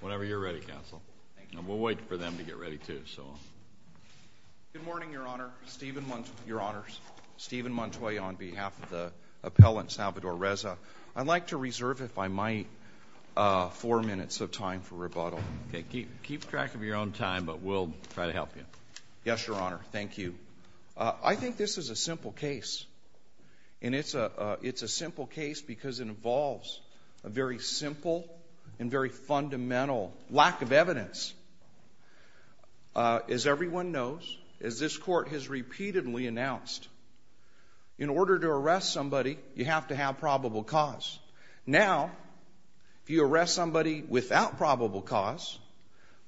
Whenever you're ready, Counsel. Thank you. And we'll wait for them to get ready, too, so. Good morning, Your Honor. Stephen Montoy, Your Honors. Stephen Montoy on behalf of the appellant, Salvador Reza. I'd like to reserve, if I might, four minutes of time for rebuttal. Keep track of your own time, but we'll try to help you. Yes, Your Honor. Thank you. I think this is a simple case. And it's a simple case because it involves a very simple and very fundamental lack of evidence. As everyone knows, as this Court has repeatedly announced, in order to arrest somebody, you have to have probable cause. Now, if you arrest somebody without probable cause,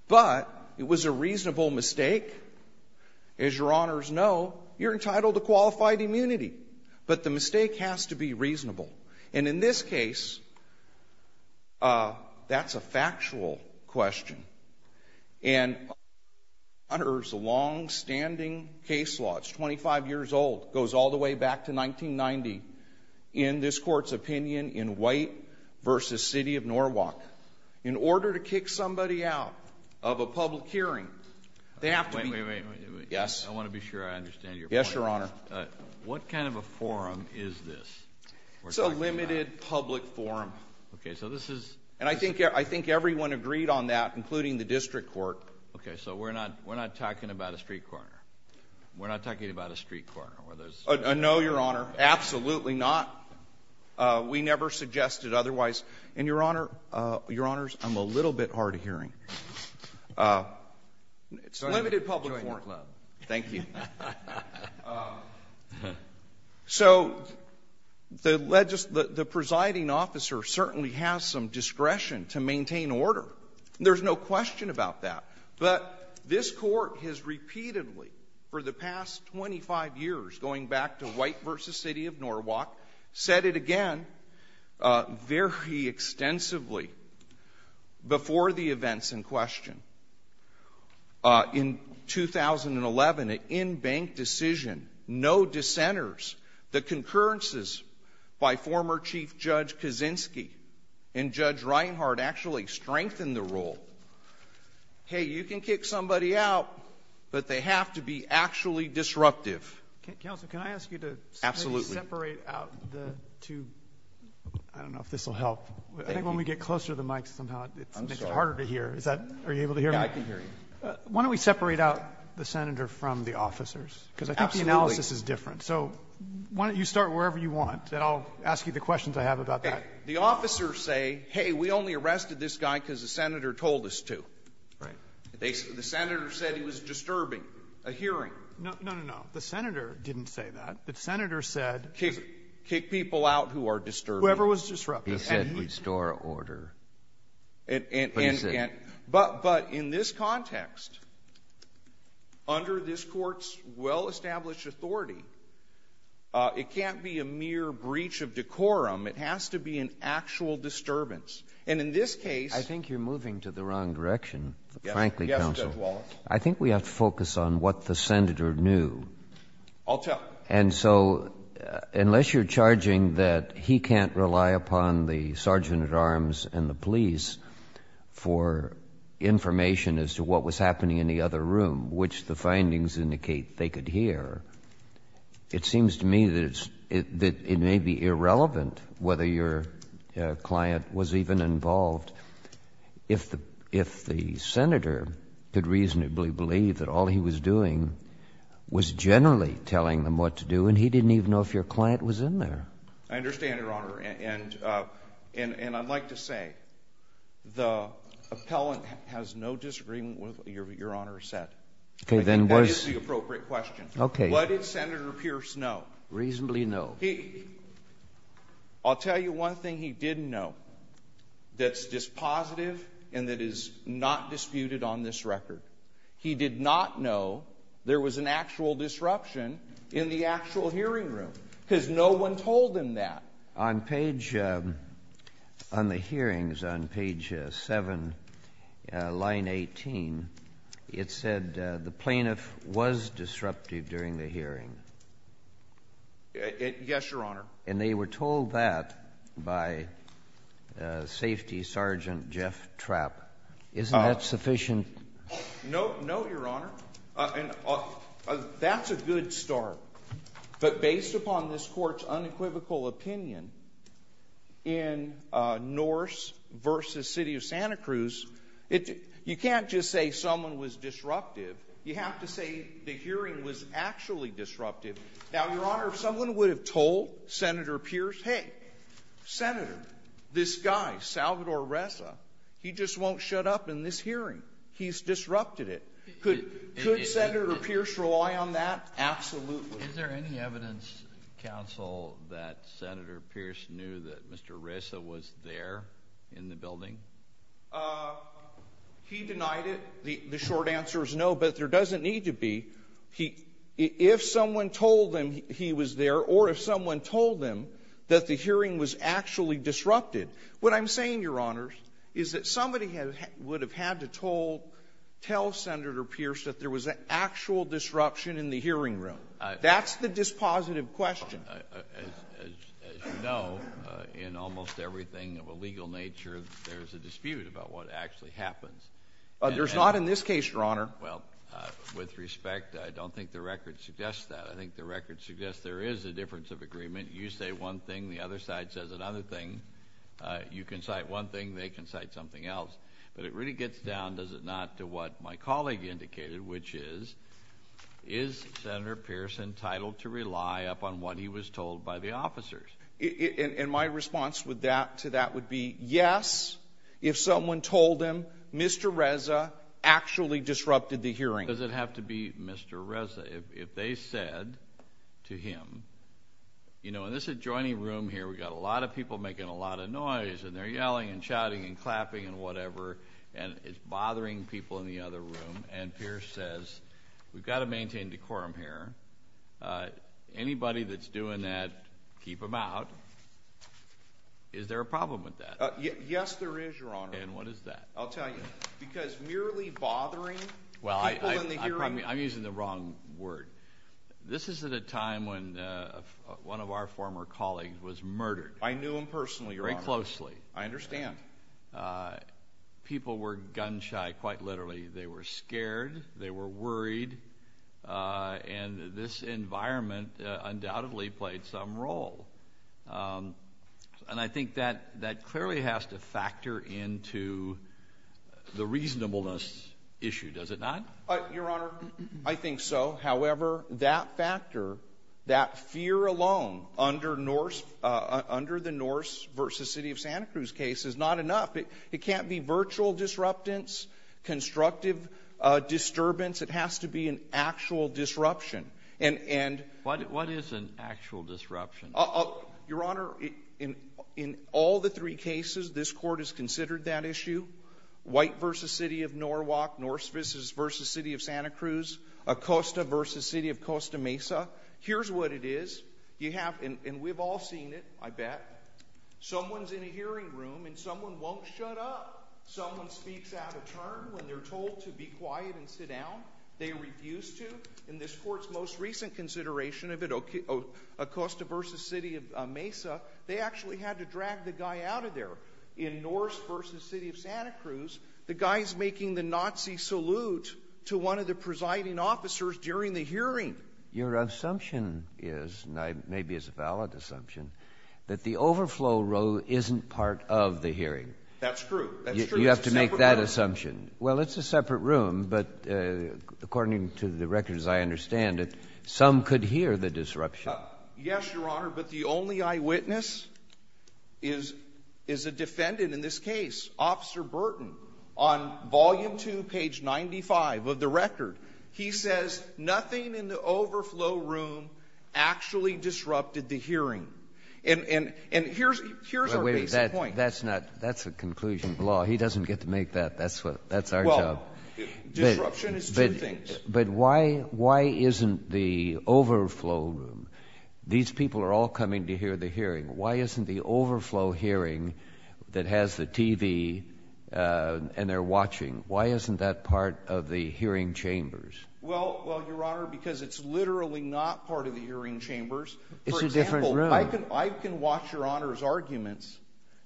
but it was a reasonable mistake, as Your Honors know, you're entitled to qualified immunity. But the mistake has to be reasonable. And in this case, that's a factual question. And under the longstanding case law, it's 25 years old, goes all the way back to 1990, in this Court's opinion in White v. City of Norwalk, in order to kick somebody out of a public hearing, they have to be ---- Wait, wait, wait. Yes. I want to be sure I understand your point. Yes, Your Honor. What kind of a forum is this? It's a limited public forum. Okay. So this is ---- And I think everyone agreed on that, including the district court. Okay. So we're not talking about a street corner. We're not talking about a street corner. No, Your Honor. Absolutely not. We never suggested otherwise. And, Your Honor, Your Honors, I'm a little bit hard of hearing. It's a limited public forum. Thank you. So the presiding officer certainly has some discretion to maintain order. There's no question about that. But this Court has repeatedly, for the past 25 years, going back to White v. City of Norwalk, said it again very extensively before the events in question. In 2011, an in-bank decision, no dissenters, the concurrences by former Chief Judge Kaczynski and Judge Reinhart actually strengthened the rule. Hey, you can kick somebody out, but they have to be actually disruptive. Counsel, can I ask you to ---- Absolutely. Can we separate out the two? I don't know if this will help. Thank you. I think when we get closer to the mics, somehow it makes it harder to hear. I'm sorry. Are you able to hear me? Yeah, I can hear you. Why don't we separate out the Senator from the officers? Absolutely. Because I think the analysis is different. So why don't you start wherever you want, and I'll ask you the questions I have about that. Okay. The officers say, hey, we only arrested this guy because the Senator told us to. Right. The Senator said he was disturbing, a hearing. No, no, no, no. The Senator didn't say that. The Senator said ---- Kick people out who are disturbing. Whoever was disruptive. He said he'd store order. But he said ---- But in this context, under this Court's well-established authority, it can't be a mere breach of decorum. It has to be an actual disturbance. And in this case ---- I think you're moving to the wrong direction, frankly, counsel. Yes, Judge Wallace. I think we have to focus on what the Senator knew. I'll tell you. And so unless you're charging that he can't rely upon the Sergeant at Arms and the police for information as to what was happening in the other room, which the findings indicate they could hear, it seems to me that it may be irrelevant whether your client was even involved if the Senator could reasonably believe that all he was doing was generally telling them what to do, and he didn't even know if your client was in there. I understand, Your Honor. And I'd like to say the appellant has no disagreement with what Your Honor said. Then where's ---- I think that is the appropriate question. Okay. What did Senator Pierce know? Reasonably know. He ---- I'll tell you one thing he didn't know that's dispositive and that is not disputed on this record. He did not know there was an actual disruption in the actual hearing room because no one told him that. On page ---- on the hearings, on page 7, line 18, it said the plaintiff was disruptive during the hearing. Yes, Your Honor. And they were told that by Safety Sergeant Jeff Trapp. Isn't that sufficient? No, no, Your Honor. And that's a good start. But based upon this Court's unequivocal opinion in Norse v. City of Santa Cruz, it ---- you can't just say someone was disruptive. You have to say the hearing was actually disruptive. Now, Your Honor, if someone would have told Senator Pierce, hey, Senator, this guy, Salvador Ressa, he just won't shut up in this hearing. He's disrupted it. Could Senator Pierce rely on that? Absolutely. Is there any evidence, counsel, that Senator Pierce knew that Mr. Ressa was there in the building? He denied it. The short answer is no, but there doesn't need to be. If someone told him he was there or if someone told him that the hearing was actually disrupted, what I'm saying, Your Honors, is that somebody would have had to tell Senator Pierce that there was an actual disruption in the hearing room. That's the dispositive question. As you know, in almost everything of a legal nature, there's a dispute about what actually happens. There's not in this case, Your Honor. Well, with respect, I don't think the record suggests that. I think the record suggests there is a difference of agreement. You say one thing. The other side says another thing. You can cite one thing. They can cite something else. But it really gets down, does it not, to what my colleague indicated, which is, is Senator Pierce entitled to rely upon what he was told by the officers? And my response to that would be yes, if someone told him Mr. Ressa actually disrupted the hearing. Does it have to be Mr. Ressa? If they said to him, you know, in this adjoining room here, we've got a lot of people making a lot of noise, and they're yelling and shouting and clapping and whatever, and it's bothering people in the other room. And Pierce says, we've got to maintain decorum here. Anybody that's doing that, keep them out. Is there a problem with that? Yes, there is, Your Honor. And what is that? I'll tell you. Because merely bothering people in the hearing. I'm using the wrong word. This is at a time when one of our former colleagues was murdered. I knew him personally, Your Honor. Very closely. I understand. People were gun-shy, quite literally. They were scared. They were worried. And this environment undoubtedly played some role. And I think that clearly has to factor into the reasonableness issue, does it not? Your Honor, I think so. However, that factor, that fear alone under the Norse v. City of Santa Cruz case is not enough. It can't be virtual disruptance, constructive disturbance. It has to be an actual disruption. What is an actual disruption? Your Honor, in all the three cases, this Court has considered that issue. White v. City of Norwalk, Norse v. City of Santa Cruz, Acosta v. City of Costa Mesa. Here's what it is. You have, and we've all seen it, I bet. Someone's in a hearing room and someone won't shut up. Someone speaks out of turn when they're told to be quiet and sit down. They refuse to. In this Court's most recent consideration of it, Acosta v. City of Mesa, they actually had to drag the guy out of there. In Norse v. City of Santa Cruz, the guy's making the Nazi salute to one of the presiding officers during the hearing. Your assumption is, and maybe it's a valid assumption, that the overflow row isn't part of the hearing. That's true. You have to make that assumption. Well, it's a separate room, but according to the records I understand it, some could hear the disruption. Yes, Your Honor, but the only eyewitness is a defendant in this case, Officer Burton, on Volume 2, page 95 of the record. He says nothing in the overflow room actually disrupted the hearing. And here's our basic point. Wait a minute. That's a conclusion of the law. He doesn't get to make that. That's our job. Well, disruption is two things. But why isn't the overflow room, these people are all coming to hear the hearing, why isn't the overflow hearing that has the TV and they're watching, why isn't that part of the hearing chambers? Well, Your Honor, because it's literally not part of the hearing chambers. It's a different room. For example, I can watch Your Honor's arguments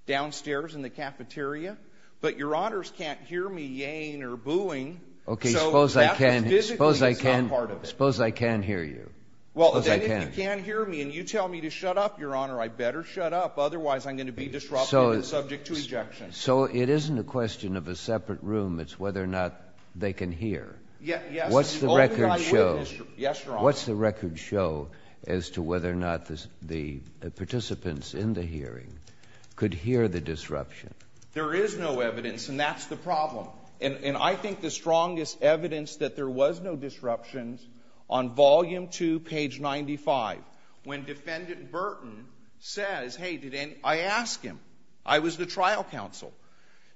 downstairs in the cafeteria, but Your Honors can't hear me yaying or booing. Okay, suppose I can hear you. Well, then if you can't hear me and you tell me to shut up, Your Honor, I better shut up, otherwise I'm going to be disrupted and subject to ejection. So it isn't a question of a separate room. It's whether or not they can hear. Yes, Your Honor. What's the record show as to whether or not the participants in the hearing could hear the disruption? There is no evidence, and that's the problem. And I think the strongest evidence that there was no disruptions on Volume 2, page 95, when Defendant Burton says, hey, I asked him, I was the trial counsel,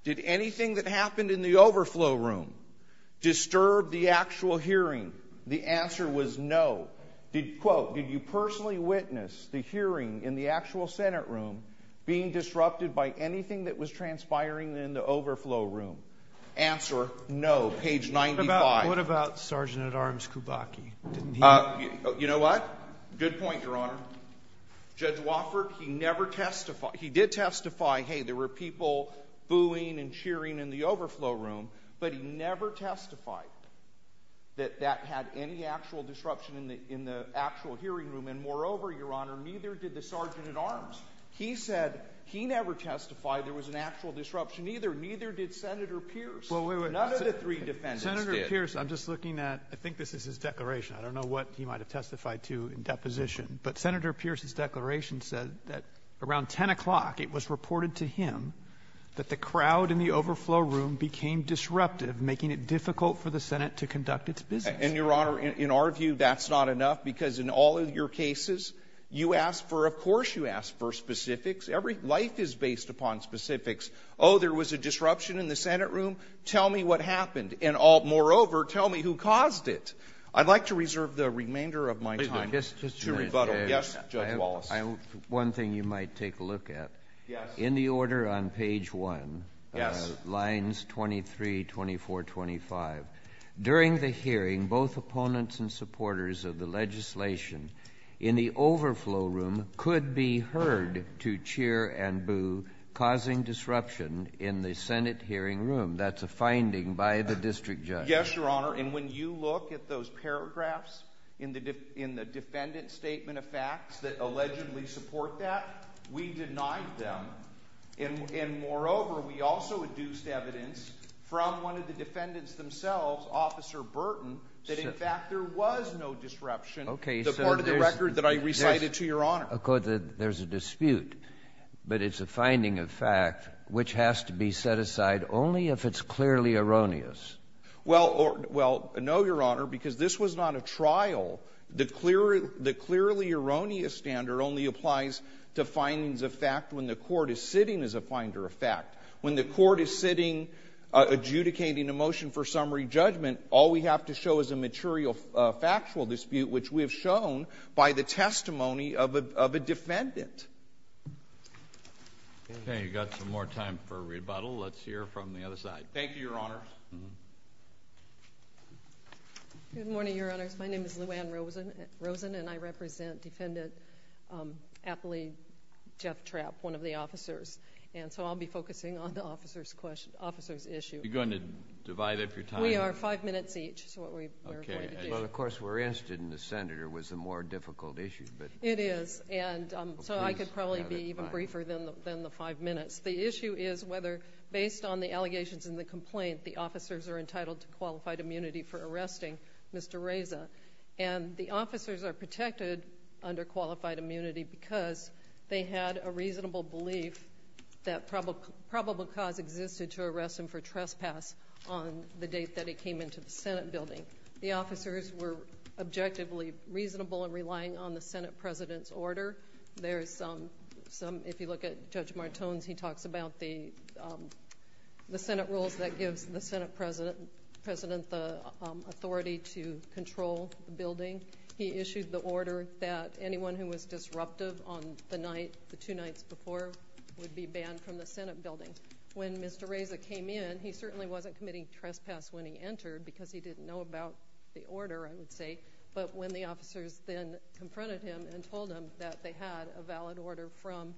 did anything that happened in the overflow room disturb the actual hearing? The answer was no. Did you personally witness the hearing in the actual Senate room being disrupted by anything that was transpiring in the overflow room? Answer, no, page 95. What about Sergeant-at-Arms Kubacki? You know what? Good point, Your Honor. Judge Wofford, he never testified. He did testify, hey, there were people booing and cheering in the overflow room, but he never testified that that had any actual disruption in the actual hearing room. And, moreover, Your Honor, neither did the Sergeant-at-Arms. He said he never testified there was an actual disruption either. Neither did Senator Pierce. None of the three defendants did. Senator Pierce, I'm just looking at I think this is his declaration. I don't know what he might have testified to in deposition. But Senator Pierce's declaration said that around 10 o'clock it was reported to him that the crowd in the overflow room became disruptive, making it difficult for the Senate to conduct its business. And, Your Honor, in our view, that's not enough, because in all of your cases, you ask for of course you ask for specifics. Life is based upon specifics. Oh, there was a disruption in the Senate room? Tell me what happened. And, moreover, tell me who caused it. I'd like to reserve the remainder of my time to rebuttal. Yes, Judge Wallace. One thing you might take a look at. In the order on page 1, lines 23, 24, 25, during the hearing both opponents and supporters of the legislation in the overflow room could be heard to cheer and boo, causing disruption in the Senate hearing room. That's a finding by the district judge. Yes, Your Honor, and when you look at those paragraphs in the defendant's statement of facts that allegedly support that, we denied them. And, moreover, we also adduced evidence from one of the defendants themselves, Officer Burton, that in fact there was no disruption to part of the record that I recited to Your Honor. There's a dispute, but it's a finding of fact which has to be set aside only if it's clearly erroneous. Well, no, Your Honor, because this was not a trial. The clearly erroneous standard only applies to findings of fact when the court is sitting as a finder of fact. When the court is sitting adjudicating a motion for summary judgment, all we have to show is a material factual dispute, which we have shown by the testimony of a defendant. Okay, you've got some more time for rebuttal. Let's hear from the other side. Thank you, Your Honors. Good morning, Your Honors. My name is Lou Anne Rosen, and I represent Defendant Appley Jeff Trapp, one of the officers, and so I'll be focusing on the officer's issue. Are you going to divide up your time? We are five minutes each, so what we're going to do. Well, of course, we're interested in the senator. It was a more difficult issue. It is, and so I could probably be even briefer than the five minutes. The issue is whether, based on the allegations in the complaint, the officers are entitled to qualified immunity for arresting Mr. Reza, and the officers are protected under qualified immunity because they had a reasonable belief that probable cause existed to arrest him for trespass on the date that he came into the Senate building. The officers were objectively reasonable in relying on the Senate president's order. If you look at Judge Martone's, he talks about the Senate rules that gives the Senate president the authority to control the building. He issued the order that anyone who was disruptive on the night, the two nights before, would be banned from the Senate building. When Mr. Reza came in, he certainly wasn't committing trespass when he entered but when the officers then confronted him and told him that they had a valid order from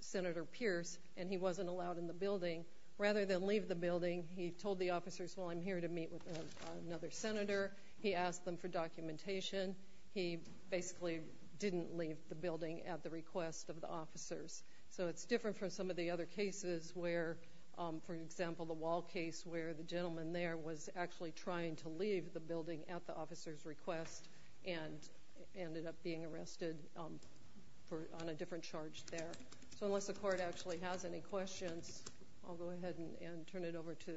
Senator Pierce and he wasn't allowed in the building, rather than leave the building, he told the officers, well, I'm here to meet with another senator. He asked them for documentation. He basically didn't leave the building at the request of the officers. So it's different from some of the other cases where, for example, the Wall case, where the gentleman there was actually trying to leave the building at the officer's request and ended up being arrested on a different charge there. So unless the Court actually has any questions, I'll go ahead and turn it over to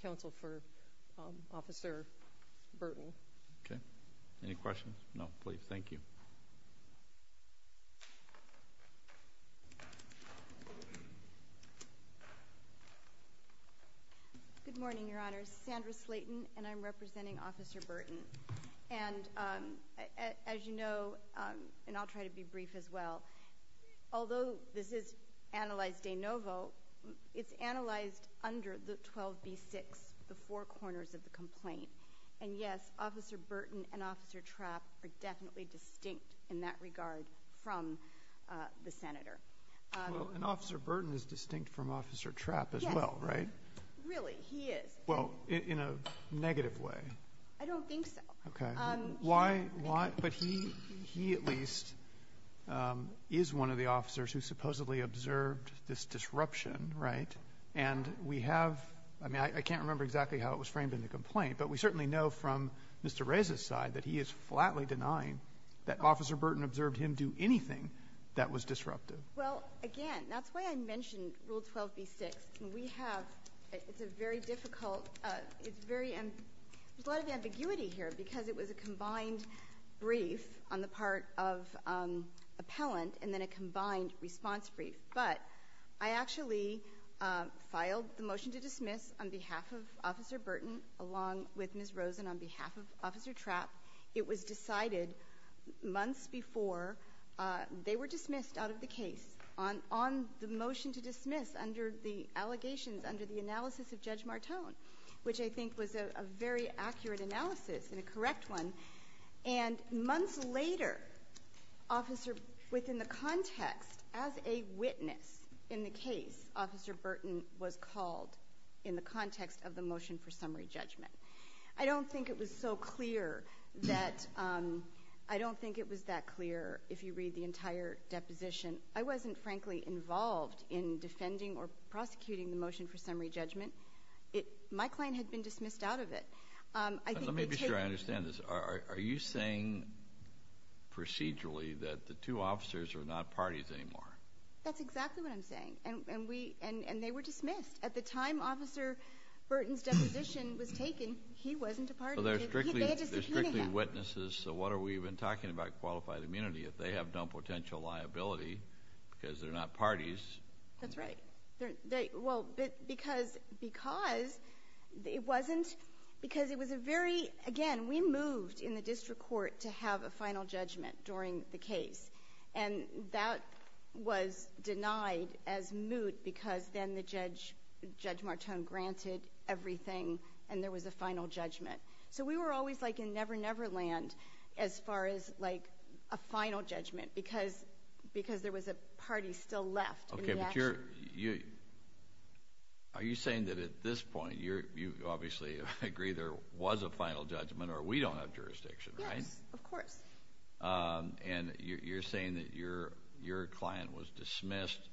counsel for Officer Burton. Okay. Any questions? No, please. Thank you. Good morning, Your Honor. Sandra Slayton, and I'm representing Officer Burton. And as you know, and I'll try to be brief as well, although this is analyzed de novo, it's analyzed under the 12b-6, the four corners of the complaint. And yes, Officer Burton and Officer Trapp are definitely distinct in that regard from the senator. Well, and Officer Burton is distinct from Officer Trapp as well, right? Really, he is. Well, in a negative way. I don't think so. Okay. Why? But he at least is one of the officers who supposedly observed this disruption, right? And we have, I mean, I can't remember exactly how it was framed in the complaint, but we certainly know from Mr. Reza's side that he is flatly denying that Officer Burton observed him do anything that was disruptive. Well, again, that's why I mentioned Rule 12b-6. We have, it's a very difficult, it's very, there's a lot of ambiguity here, because it was a combined brief on the part of appellant and then a combined response brief. But I actually filed the motion to dismiss on behalf of Officer Burton along with Ms. Rosen on behalf of Officer Trapp. It was decided months before they were dismissed out of the case on the motion to dismiss under the allegations, under the analysis of Judge Martone, which I think was a very accurate analysis and a correct one. And months later, Officer, within the context, as a witness in the case, Officer Burton was called in the context of the motion for summary judgment. I don't think it was so clear that, I don't think it was that clear if you read the entire deposition. I wasn't, frankly, involved in defending or prosecuting the motion for summary judgment. My client had been dismissed out of it. Let me be sure I understand this. Are you saying procedurally that the two officers are not parties anymore? That's exactly what I'm saying. And they were dismissed. At the time Officer Burton's deposition was taken, he wasn't a party. So they're strictly witnesses. So what are we even talking about qualified immunity if they have no potential liability because they're not parties? That's right. Well, because it wasn't, because it was a very, again, we moved in the district court to have a final judgment during the case. And that was denied as moot because then Judge Martone granted everything and there was a final judgment. So we were always like in never-never land as far as a final judgment because there was a party still left in the action. Are you saying that at this point you obviously agree there was a final judgment or we don't have jurisdiction, right? Yes, of course. And you're saying that your client was dismissed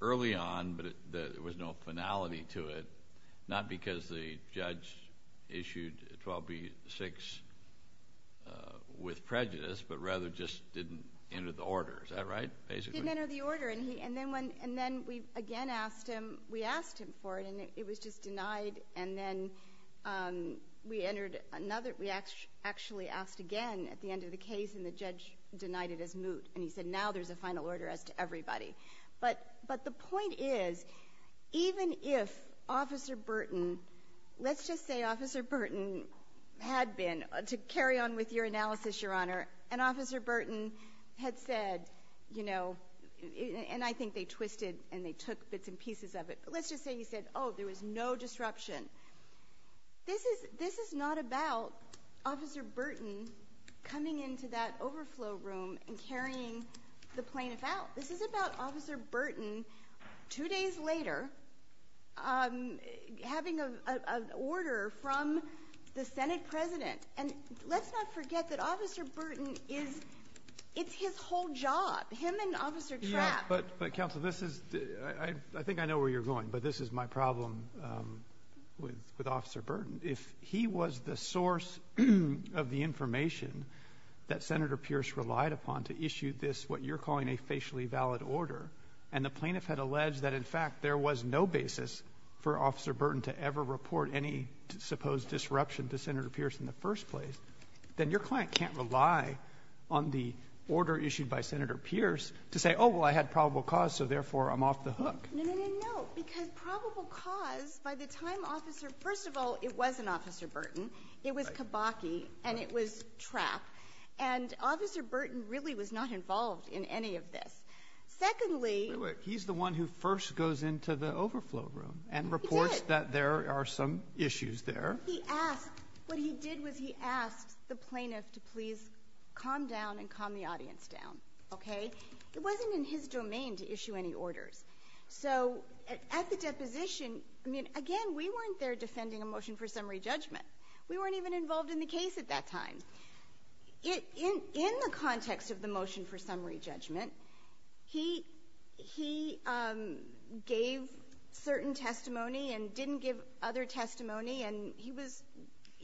early on but there was no finality to it, not because the judge issued 12B-6 with prejudice but rather just didn't enter the order. Is that right, basically? Didn't enter the order. And then we again asked him, we asked him for it and it was just denied. And then we entered another, we actually asked again at the end of the case and the judge denied it as moot. And he said now there's a final order as to everybody. But the point is even if Officer Burton, let's just say Officer Burton had been, to carry on with your analysis, Your Honor, and Officer Burton had said, you know, and I think they twisted and they took bits and pieces of it, but let's just say he said, oh, there was no disruption. This is not about Officer Burton coming into that overflow room and carrying the plaintiff out. This is about Officer Burton two days later having an order from the Senate president. And let's not forget that Officer Burton is, it's his whole job, him and Officer Trapp. But, Counsel, this is, I think I know where you're going, but this is my problem with Officer Burton. If he was the source of the information that Senator Pierce relied upon to issue this, what you're calling a facially valid order, and the plaintiff had alleged that in fact there was no basis for Officer Burton to ever report any supposed disruption to Senator Pierce in the first place, then your client can't rely on the order issued by Senator Pierce to say, oh, well, I had probable cause, so therefore I'm off the hook. No, no, no, no, because probable cause, by the time Officer, first of all, it wasn't Officer Burton. It was Kabaki and it was Trapp. And Officer Burton really was not involved in any of this. Secondly, Wait, wait, he's the one who first goes into the overflow room and reports that there are some issues there. What he did was he asked the plaintiff to please calm down and calm the audience down, okay? It wasn't in his domain to issue any orders. So, at the deposition, again, we weren't there defending a motion for summary judgment. We weren't even involved in the case at that time. In the context of the motion for summary judgment, he gave certain testimony and didn't give other testimony, and he was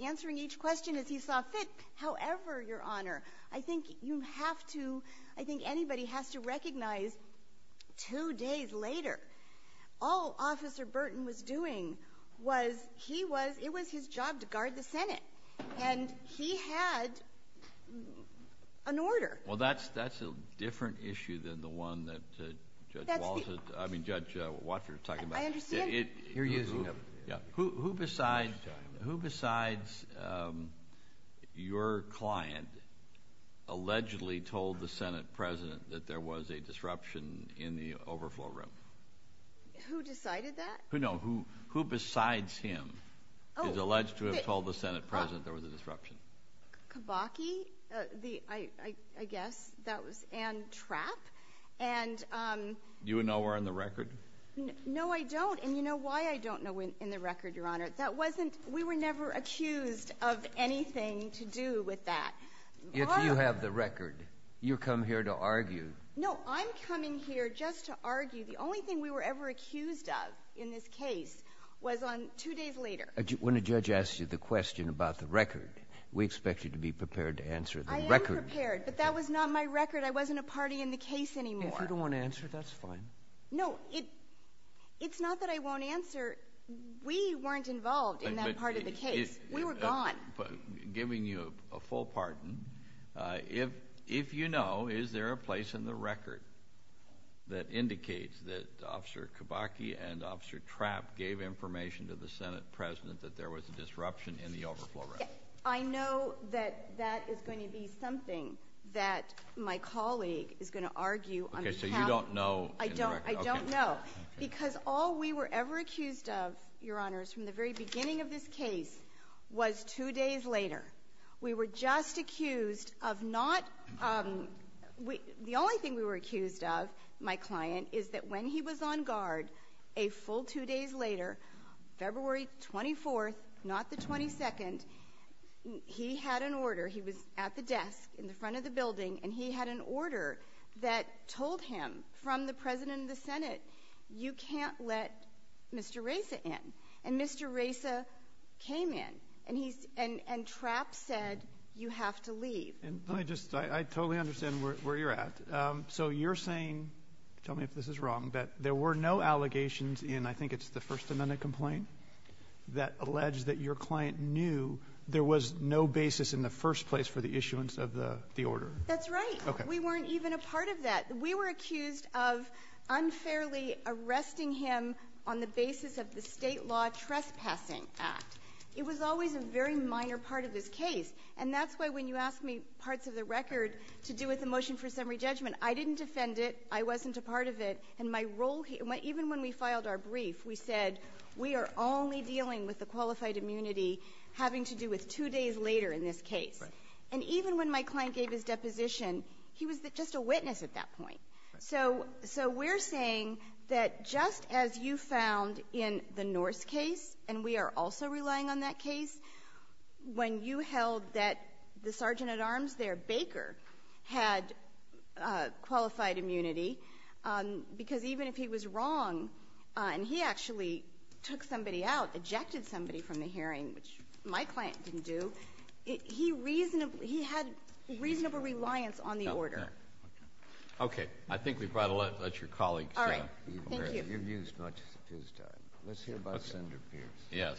answering each question as he saw fit. However, Your Honor, I think you have to, I think anybody has to recognize, two days later, all Officer Burton was doing was, he was, it was his job to guard the Senate. And he had an order. Well, that's a different issue than the one that Judge Walsh, I mean Judge Watcher is talking about. I understand. You're using him. Who besides your client allegedly told the Senate President that there was a disruption in the overflow room? Who decided that? No, who besides him is alleged to have told the Senate President there was a disruption? Kabaki, I guess that was, and Trapp. Do you know where in the record? No, I don't. And you know why I don't know in the record, Your Honor? That wasn't, we were never accused of anything to do with that. If you have the record, you come here to argue. No, I'm coming here just to argue. The only thing we were ever accused of in this case was on two days later. When a judge asks you the question about the record, we expect you to be prepared to answer the record. I am prepared, but that was not my record. I wasn't a party in the case anymore. If you don't want to answer, that's fine. No, it's not that I won't answer. We weren't involved in that part of the case. We were gone. I'm giving you a full pardon. If you know, is there a place in the record that indicates that Officer Kabaki and Officer Trapp gave information to the Senate President that there was a disruption in the overflow rest? I know that that is going to be something that my colleague is going to argue. Okay, so you don't know in the record. I don't know. Because all we were ever accused of, Your Honors, from the very beginning of this case was two days later. We were just accused of not — the only thing we were accused of, my client, is that when he was on guard a full two days later, February 24th, not the 22nd, he had an order. He was at the desk in the front of the building, and he had an order that told him from the President of the Senate, you can't let Mr. Reza in. And Mr. Reza came in, and Trapp said, you have to leave. Let me just — I totally understand where you're at. So you're saying — tell me if this is wrong — that there were no allegations in, I think it's the First Amendment complaint, that alleged that your client knew there was no basis in the first place for the issuance of the order? That's right. We weren't even a part of that. We were accused of unfairly arresting him on the basis of the state law trespassing act. It was always a very minor part of this case. And that's why when you asked me parts of the record to do with the motion for summary judgment, I didn't defend it. I wasn't a part of it. And my role — even when we filed our brief, we said, we are only dealing with the qualified immunity having to do with two days later in this case. And even when my client gave his deposition, he was just a witness at that point. So we're saying that just as you found in the Norse case, and we are also relying on that case, when you held that the sergeant at arms there, Baker, had qualified immunity, because even if he was wrong and he actually took somebody out, ejected somebody from the hearing, which my client didn't do, he had reasonable reliance on the order. Okay. I think we've got to let your colleagues — All right. Thank you. You've used much of his time. Let's hear about Senator Pierce. Yes.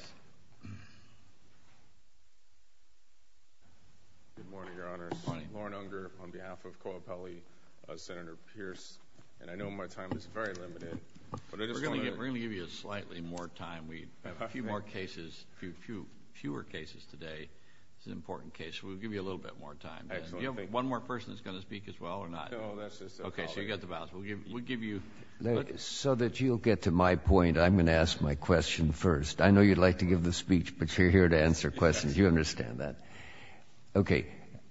Good morning, Your Honors. Lorne Unger on behalf of Coapelli, Senator Pierce. And I know my time is very limited. We're going to give you slightly more time. We have a few more cases, fewer cases today. It's an important case. We'll give you a little bit more time. Excellent. Do you have one more person that's going to speak as well or not? No, that's just a colleague. Okay. So you've got the balance. We'll give you — So that you'll get to my point, I'm going to ask my question first. I know you'd like to give the speech, but you're here to answer questions. You understand that. Okay.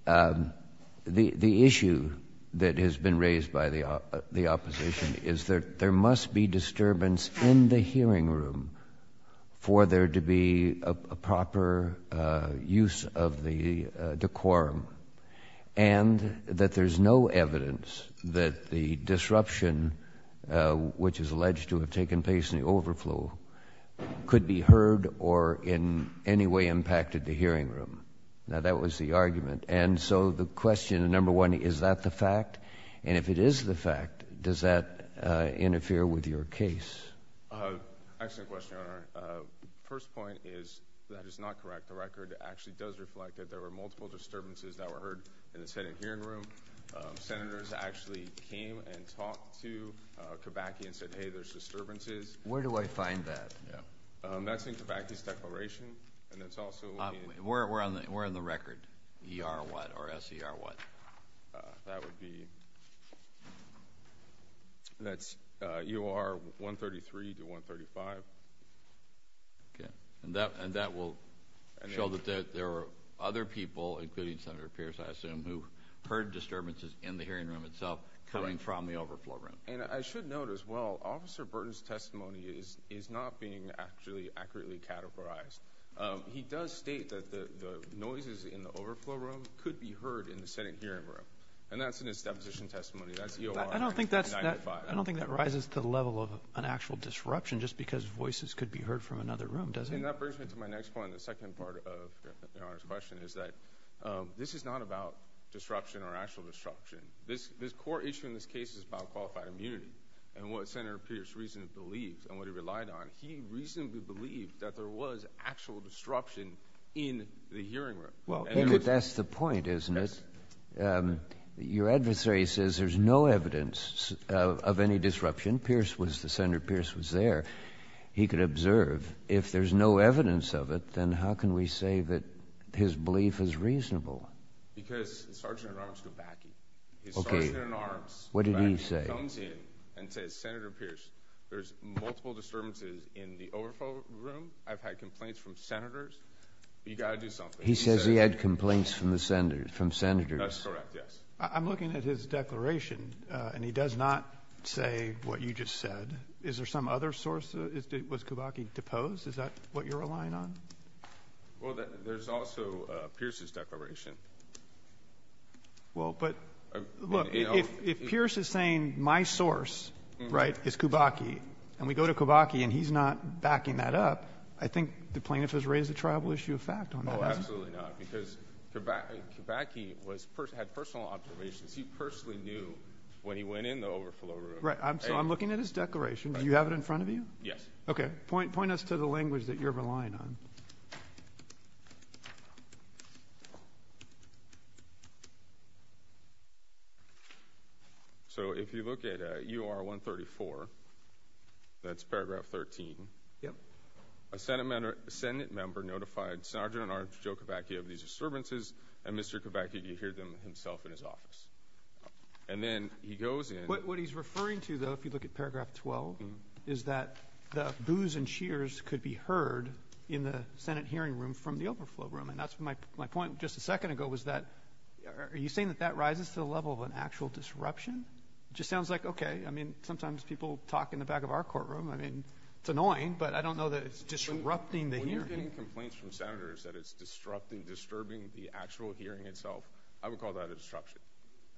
The issue that has been raised by the opposition is that there must be disturbance in the hearing room for there to be a proper use of the decorum, and that there's no evidence that the disruption, which is alleged to have taken place in the overflow, could be heard or in any way impacted the hearing room. Now, that was the argument. And so the question, number one, is that the fact? And if it is the fact, does that interfere with your case? Excellent question, Your Honor. The first point is that is not correct. The record actually does reflect that there were multiple disturbances that were heard in the sitting hearing room. Senators actually came and talked to Kibaki and said, hey, there's disturbances. Where do I find that? That's in Kibaki's declaration, and it's also in — Where on the record, E-R what or S-E-R what? That would be — that's U.R. 133 to 135. Okay. And that will show that there were other people, including Senator Pierce, I assume, who heard disturbances in the hearing room itself coming from the overflow room. And I should note as well, Officer Burton's testimony is not being actually accurately categorized. He does state that the noises in the overflow room could be heard in the sitting hearing room, and that's in his deposition testimony. That's E-R. I don't think that rises to the level of an actual disruption just because voices could be heard from another room, does it? And that brings me to my next point, the second part of Your Honor's question, is that this is not about disruption or actual disruption. This core issue in this case is about qualified immunity. And what Senator Pierce reasonably believed and what he relied on, he reasonably believed that there was actual disruption in the hearing room. Well, I think that that's the point, isn't it? Yes. Your adversary says there's no evidence of any disruption. Pierce was—Senator Pierce was there. He could observe. If there's no evidence of it, then how can we say that his belief is reasonable? Because Sergeant-at-Arms Gobacki. Okay. His Sergeant-at-Arms— What did he say? He comes in and says, Senator Pierce, there's multiple disturbances in the overflow room. I've had complaints from Senators. You've got to do something. He says he had complaints from Senators. That's correct, yes. I'm looking at his declaration, and he does not say what you just said. Is there some other source? Was Gobacki deposed? Is that what you're relying on? Well, there's also Pierce's declaration. Well, but, look, if Pierce is saying my source, right, is Gobacki, and we go to Gobacki and he's not backing that up, I think the plaintiff has raised a tribal issue of fact on that. Oh, absolutely not, because Gobacki had personal observations. He personally knew when he went in the overflow room. Right. So I'm looking at his declaration. Do you have it in front of you? Yes. Okay. Point us to the language that you're relying on. So if you look at U.R. 134, that's paragraph 13. Yep. A Senate member notified Sergeant-at-Arms Joe Gobacki of these disturbances, and Mr. Gobacki could hear them himself in his office. And then he goes in. What he's referring to, though, if you look at paragraph 12, is that the boos and cheers could be heard in the Senate hearing room from the overflow room. And that's my point just a second ago was that are you saying that that rises to the level of an actual disruption? It just sounds like, okay, I mean, sometimes people talk in the back of our courtroom. I mean, it's annoying, but I don't know that it's disrupting the hearing. When you're getting complaints from Senators that it's disrupting, disturbing the actual hearing itself, I would call that a disruption.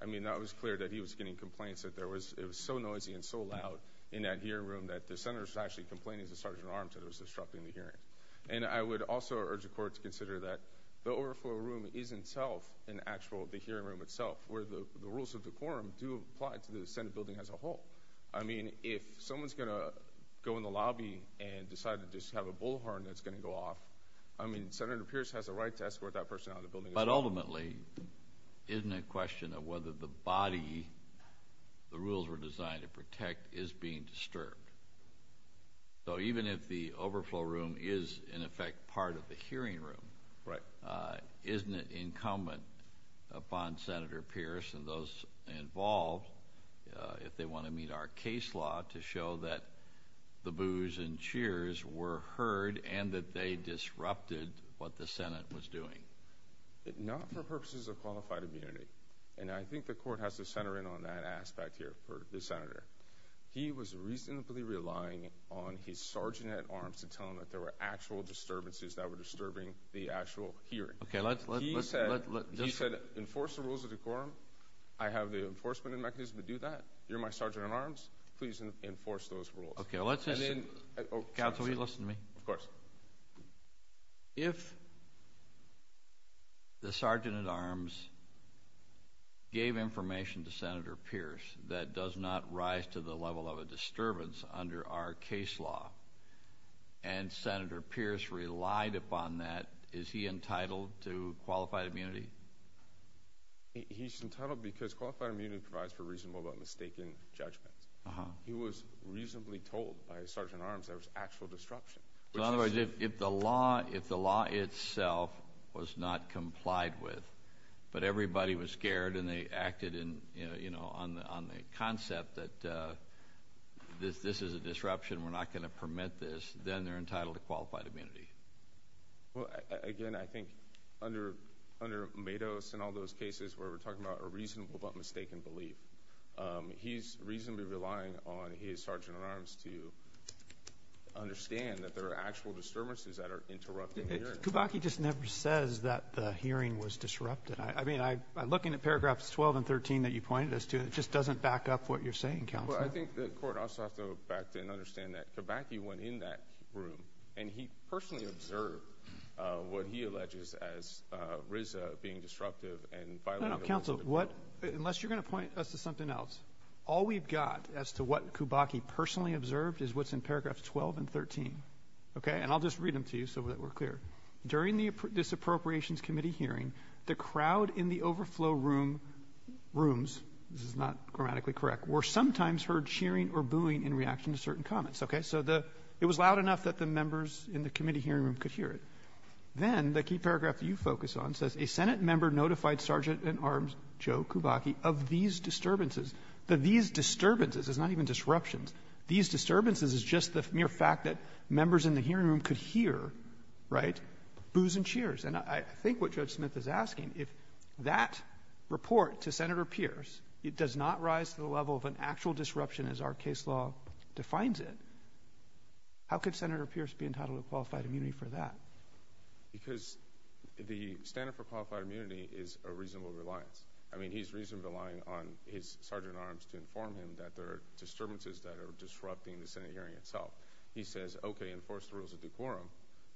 I mean, that was clear that he was getting complaints that it was so noisy and so loud in that hearing room that the Senators were actually complaining to Sergeant-at-Arms that it was disrupting the hearing. And I would also urge the Court to consider that the overflow room is, in itself, in the actual hearing room itself, where the rules of the quorum do apply to the Senate building as a whole. I mean, if someone's going to go in the lobby and decide to just have a bullhorn that's going to go off, I mean, Senator Pierce has a right to escort that person out of the building. But ultimately, isn't it a question of whether the body the rules were designed to protect is being disturbed? So even if the overflow room is, in effect, part of the hearing room, isn't it incumbent upon Senator Pierce and those involved, if they want to meet our case law, to show that the boos and cheers were heard and that they disrupted what the Senate was doing? Not for purposes of qualified immunity. And I think the Court has to center in on that aspect here for the Senator. He was reasonably relying on his Sergeant-at-Arms to tell him that there were actual disturbances that were disturbing the actual hearing. He said, enforce the rules of the quorum. I have the enforcement mechanism to do that. You're my Sergeant-at-Arms. Please enforce those rules. Okay, let's listen. Counsel, will you listen to me? Of course. If the Sergeant-at-Arms gave information to Senator Pierce that does not rise to the level of a disturbance under our case law and Senator Pierce relied upon that, is he entitled to qualified immunity? He's entitled because qualified immunity provides for reasonable but mistaken judgment. He was reasonably told by Sergeant-at-Arms there was actual disruption. In other words, if the law itself was not complied with, but everybody was scared and they acted on the concept that this is a disruption, we're not going to permit this, then they're entitled to qualified immunity. Again, I think under Matos and all those cases where we're talking about a reasonable but mistaken belief, he's reasonably relying on his Sergeant-at-Arms to understand that there are actual disturbances that are interrupting the hearing. Kibaki just never says that the hearing was disrupted. I mean, looking at paragraphs 12 and 13 that you pointed us to, it just doesn't back up what you're saying, Counsel. Well, I think the court also has to go back and understand that Kibaki went in that room and he personally observed what he alleges as RZA being disruptive and violating the law. No, no, no, Counsel. Unless you're going to point us to something else, all we've got as to what Kibaki personally observed is what's in paragraphs 12 and 13. And I'll just read them to you so that we're clear. During the Disappropriations Committee hearing, the crowd in the overflow rooms— this is not grammatically correct— were sometimes heard cheering or booing in reaction to certain comments. So it was loud enough that the members in the committee hearing room could hear it. Then the key paragraph that you focus on says, A Senate member notified Sergeant-at-Arms Joe Kibaki of these disturbances. The these disturbances is not even disruptions. These disturbances is just the mere fact that members in the hearing room could hear, right, boos and cheers. And I think what Judge Smith is asking, if that report to Senator Pierce does not rise to the level of an actual disruption as our case law defines it, how could Senator Pierce be entitled to qualified immunity for that? Because the standard for qualified immunity is a reasonable reliance. I mean, he's reasonably relying on his Sergeant-at-Arms to inform him that there are disturbances that are disrupting the Senate hearing itself. He says, okay, enforce the rules of decorum,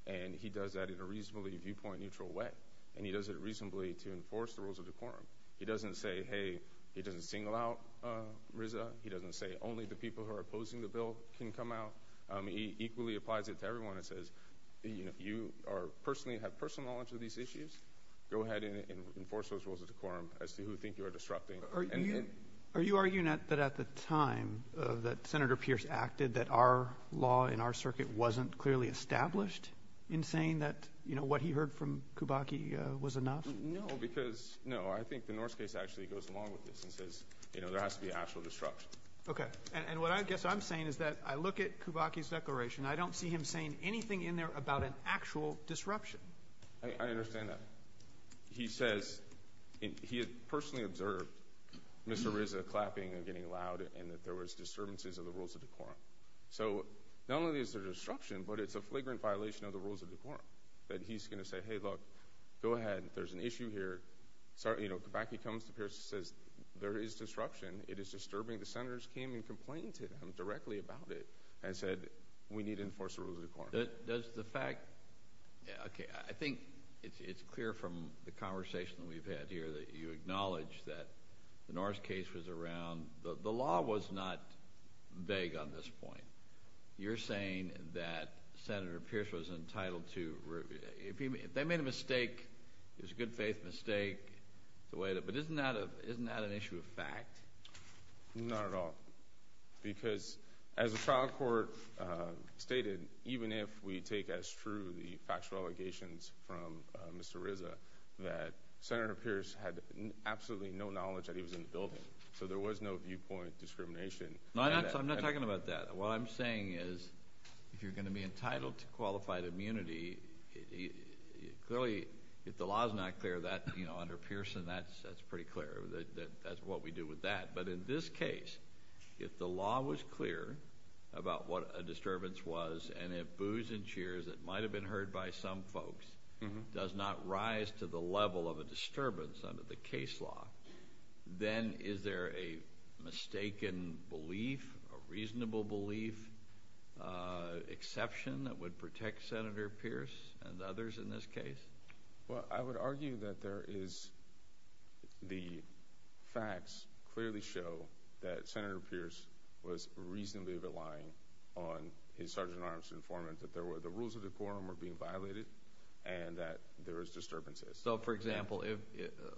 and he does that in a reasonably viewpoint-neutral way, and he does it reasonably to enforce the rules of decorum. He doesn't say, hey, he doesn't single out RZA. He doesn't say only the people who are opposing the bill can come out. He equally applies it to everyone and says, you know, you personally have personal knowledge of these issues. Go ahead and enforce those rules of decorum as to who you think you are disrupting. Are you arguing that at the time that Senator Pierce acted that our law in our circuit wasn't clearly established in saying that, you know, what he heard from Kibaki was enough? No, because, no, I think the Norse case actually goes along with this and says, you know, there has to be actual disruption. Okay, and what I guess I'm saying is that I look at Kibaki's declaration. I don't see him saying anything in there about an actual disruption. I understand that. He says he had personally observed Mr. RZA clapping and getting loud and that there was disturbances of the rules of decorum. So not only is there disruption, but it's a flagrant violation of the rules of decorum that he's going to say, hey, look, go ahead. There's an issue here. You know, Kibaki comes to Pierce and says there is disruption. It is disturbing. The Senators came and complained to him directly about it and said we need to enforce the rules of decorum. Does the fact – okay, I think it's clear from the conversation that we've had here that you acknowledge that the Norse case was around – the law was not vague on this point. You're saying that Senator Pierce was entitled to – if they made a mistake, it was a good faith mistake. But isn't that an issue of fact? Not at all, because as the trial court stated, even if we take as true the factual allegations from Mr. RZA, that Senator Pierce had absolutely no knowledge that he was in the building. So there was no viewpoint discrimination. I'm not talking about that. What I'm saying is if you're going to be entitled to qualified immunity, clearly if the law is not clear under Pearson, that's pretty clear. That's what we do with that. But in this case, if the law was clear about what a disturbance was and if boos and cheers that might have been heard by some folks does not rise to the level of a disturbance under the case law, then is there a mistaken belief, a reasonable belief, exception that would protect Senator Pierce and others in this case? Well, I would argue that there is – the facts clearly show that Senator Pierce was reasonably reliant on his Sergeant Armstrong informant that there were – the rules of the court were being violated and that there was disturbances. So, for example,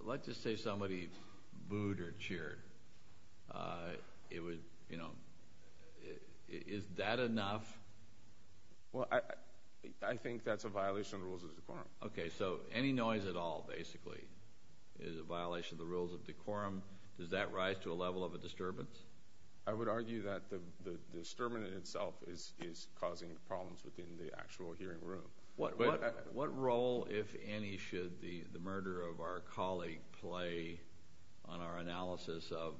let's just say somebody booed or cheered. It would – is that enough? Well, I think that's a violation of the rules of the court. Okay. So any noise at all, basically, is a violation of the rules of the court. Does that rise to a level of a disturbance? I would argue that the disturbance in itself is causing problems within the actual hearing room. What role, if any, should the murder of our colleague play on our analysis of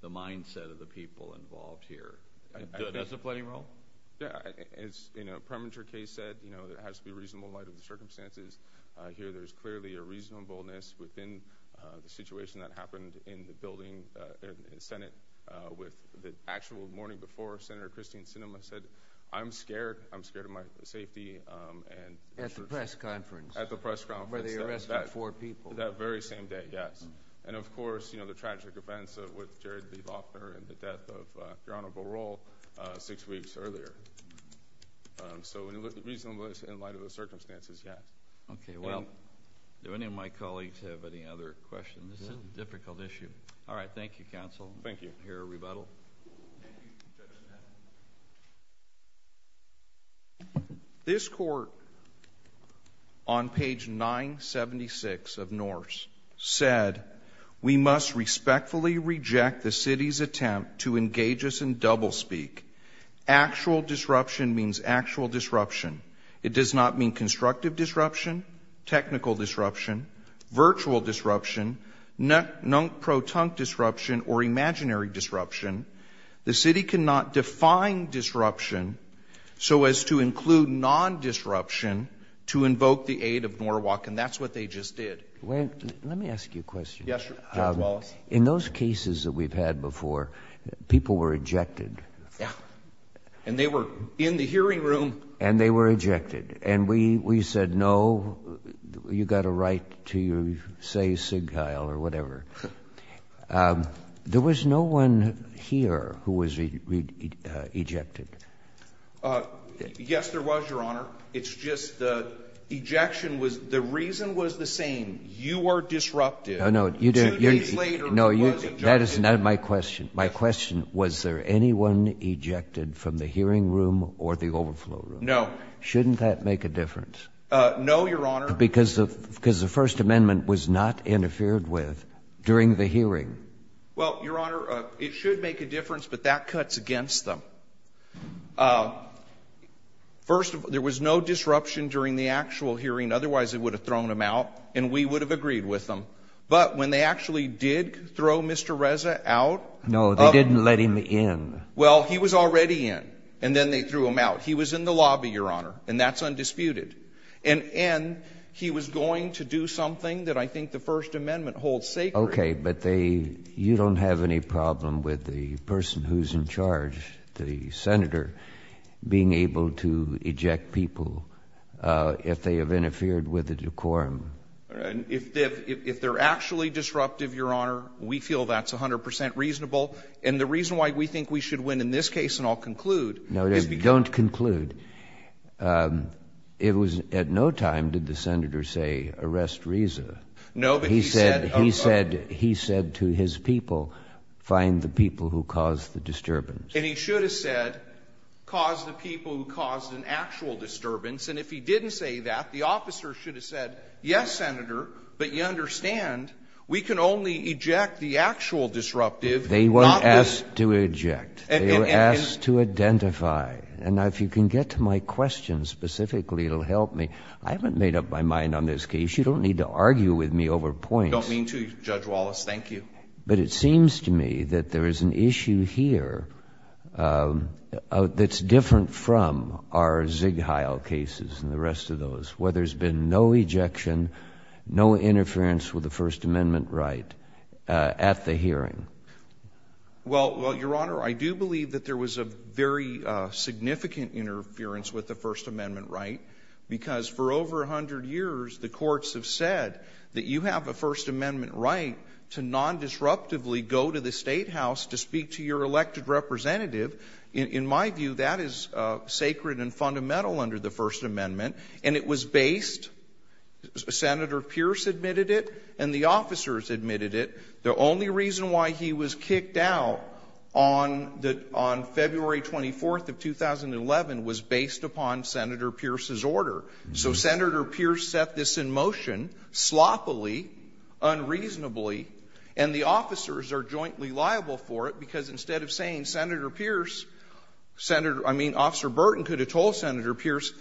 the mindset of the people involved here? Does it play a role? Yeah. As in a premature case said, there has to be reasonable light of the circumstances. Here there's clearly a reasonableness within the situation that happened in the building in the Senate with the actual morning before Senator Christine Sinema said, I'm scared. I'm scared of my safety. At the press conference. At the press conference. Where they arrested four people. That very same day, yes. And, of course, you know, the tragic events with Jared B. Loughner and the death of Your Honor Boerall six weeks earlier. So, reasonableness in light of the circumstances, yes. Okay. Well, do any of my colleagues have any other questions? This is a difficult issue. All right. Thank you, counsel. Thank you. I hear a rebuttal. Thank you, Judge Smith. This court on page 976 of Norse said, we must respectfully reject the city's attempt to engage us in doublespeak. Actual disruption means actual disruption. It does not mean constructive disruption, technical disruption, virtual disruption, non-proton disruption, or imaginary disruption. The city cannot define disruption so as to include non-disruption to invoke the aid of Norwalk, and that's what they just did. Let me ask you a question. Yes, Judge Wallace. In those cases that we've had before, people were ejected. Yeah. And they were in the hearing room. And they were ejected. And we said, no, you've got a right to say SIGCHI or whatever. There was no one here who was ejected. Yes, there was, Your Honor. It's just the ejection was the reason was the same. You were disrupted. No, no. Two days later, you were ejected. That is not my question. My question, was there anyone ejected from the hearing room or the overflow room? No. Shouldn't that make a difference? No, Your Honor. Because the First Amendment was not interfered with during the hearing. Well, Your Honor, it should make a difference, but that cuts against them. First, there was no disruption during the actual hearing. Otherwise, they would have thrown him out, and we would have agreed with them. But when they actually did throw Mr. Reza out. No, they didn't let him in. Well, he was already in, and then they threw him out. He was in the lobby, Your Honor, and that's undisputed. And he was going to do something that I think the First Amendment holds sacred. Okay. But they you don't have any problem with the person who's in charge, the senator, being able to eject people if they have interfered with the decorum. If they're actually disruptive, Your Honor, we feel that's 100 percent reasonable. And the reason why we think we should win in this case, and I'll conclude. No, don't conclude. It was at no time did the senator say, arrest Reza. No, but he said. He said to his people, find the people who caused the disturbance. And he should have said, cause the people who caused an actual disturbance. And if he didn't say that, the officer should have said, yes, Senator, but you understand, we can only eject the actual disruptive. They weren't asked to eject. They were asked to identify. And if you can get to my question specifically, it'll help me. I haven't made up my mind on this case. You don't need to argue with me over points. I don't mean to, Judge Wallace. Thank you. But it seems to me that there is an issue here that's different from our Ziegheil cases and the rest of those, where there's been no ejection, no interference with the First Amendment right at the hearing. Well, Your Honor, I do believe that there was a very significant interference with the First Amendment right, because for over 100 years, the courts have said that you have a First Amendment right to nondisruptively go to the Statehouse to speak to your elected representative. In my view, that is sacred and fundamental under the First Amendment. And it was based, Senator Pierce admitted it, and the officers admitted it. The only reason why he was kicked out on February 24th of 2011 was based upon Senator Pierce's order. So Senator Pierce set this in motion sloppily, unreasonably, and the officers are jointly liable for it, because instead of saying Senator Pierce, I mean, Officer Burton could have told Senator Pierce,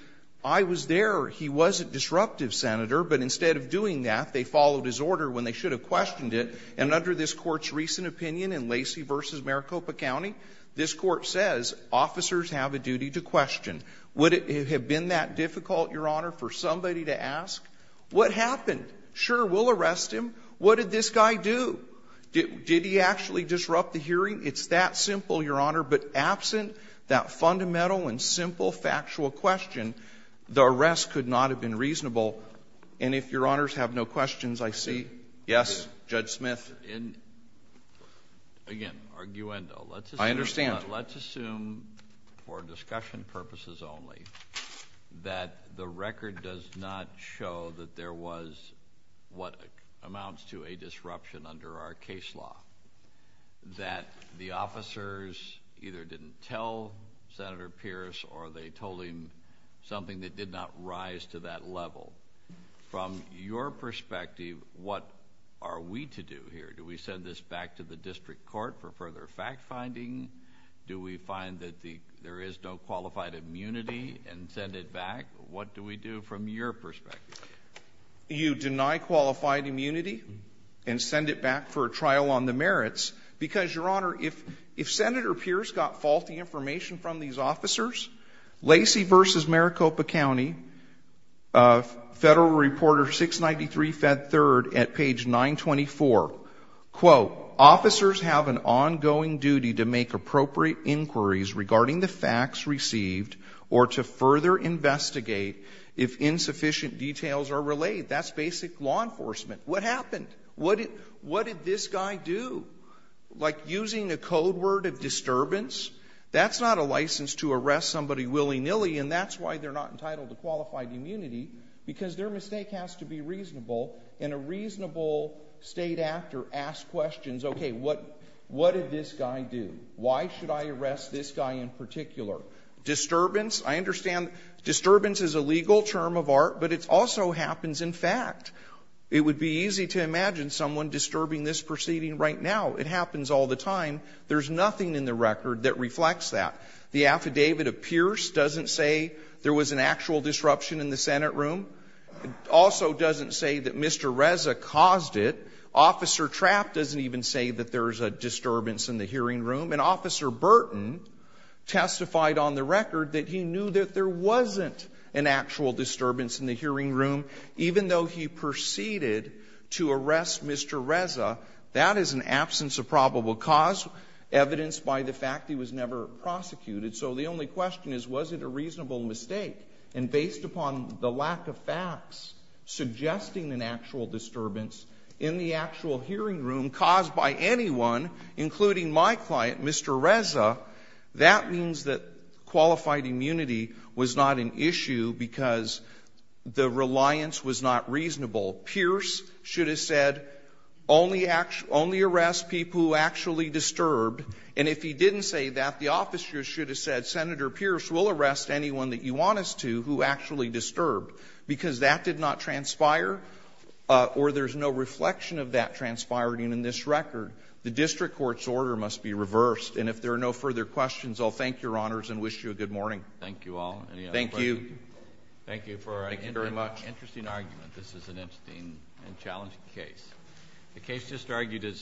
I was there, he was a disruptive senator, but instead of doing that, they followed his order when they should have questioned it. And under this Court's recent opinion in Lacey v. Maricopa County, this Court says officers have a duty to question. Would it have been that difficult, Your Honor, for somebody to ask, what happened? Sure, we'll arrest him. What did this guy do? Did he actually disrupt the hearing? It's that simple, Your Honor, but absent that fundamental and simple factual question, the arrest could not have been reasonable. And if Your Honors have no questions, I see. Yes, Judge Smith? Again, arguendo. I understand. Let's assume, for discussion purposes only, that the record does not show that there was what amounts to a disruption under our case law, that the officers either didn't tell Senator Pierce or they told him something that did not rise to that level. From your perspective, what are we to do here? Do we send this back to the District Court for further fact-finding? Do we find that there is no qualified immunity and send it back? What do we do from your perspective? You deny qualified immunity and send it back for a trial on the merits. Because, Your Honor, if Senator Pierce got faulty information from these officers, Lacey v. Maricopa County, Federal Reporter 693, Fed 3rd, at page 924, quote, "'Officers have an ongoing duty to make appropriate inquiries regarding the facts received or to further investigate if insufficient details are relayed.'" That's basic law enforcement. What happened? What did this guy do? Like, using a code word of disturbance? That's not a license to arrest somebody willy-nilly, and that's why they're not entitled to qualified immunity, because their mistake has to be reasonable. And a reasonable State actor asks questions, okay, what did this guy do? Why should I arrest this guy in particular? Disturbance? I understand disturbance is a legal term of art, but it also happens in fact. It would be easy to imagine someone disturbing this proceeding right now. It happens all the time. There's nothing in the record that reflects that. The affidavit of Pierce doesn't say there was an actual disruption in the Senate room. It also doesn't say that Mr. Reza caused it. Officer Trapp doesn't even say that there's a disturbance in the hearing room. And Officer Burton testified on the record that he knew that there wasn't an actual disturbance in the hearing room. Even though he proceeded to arrest Mr. Reza, that is an absence of probable cause, evidenced by the fact he was never prosecuted. So the only question is, was it a reasonable mistake? And based upon the lack of facts suggesting an actual disturbance in the actual hearing room caused by anyone, including my client, Mr. Reza, that means that qualified immunity was not an issue because the reliance was not reasonable. Pierce should have said, only arrest people who actually disturbed. And if he didn't say that, the officers should have said, Senator Pierce, we'll arrest anyone that you want us to who actually disturbed, because that did not transpire or there's no reflection of that transpiring in this record. The district court's order must be reversed. And if there are no further questions, I'll thank Your Honors and wish you a good morning. Thank you all. Any other questions? Thank you. Thank you for an interesting argument. Thank you very much. This is an interesting and challenging case. The case just argued is submitted.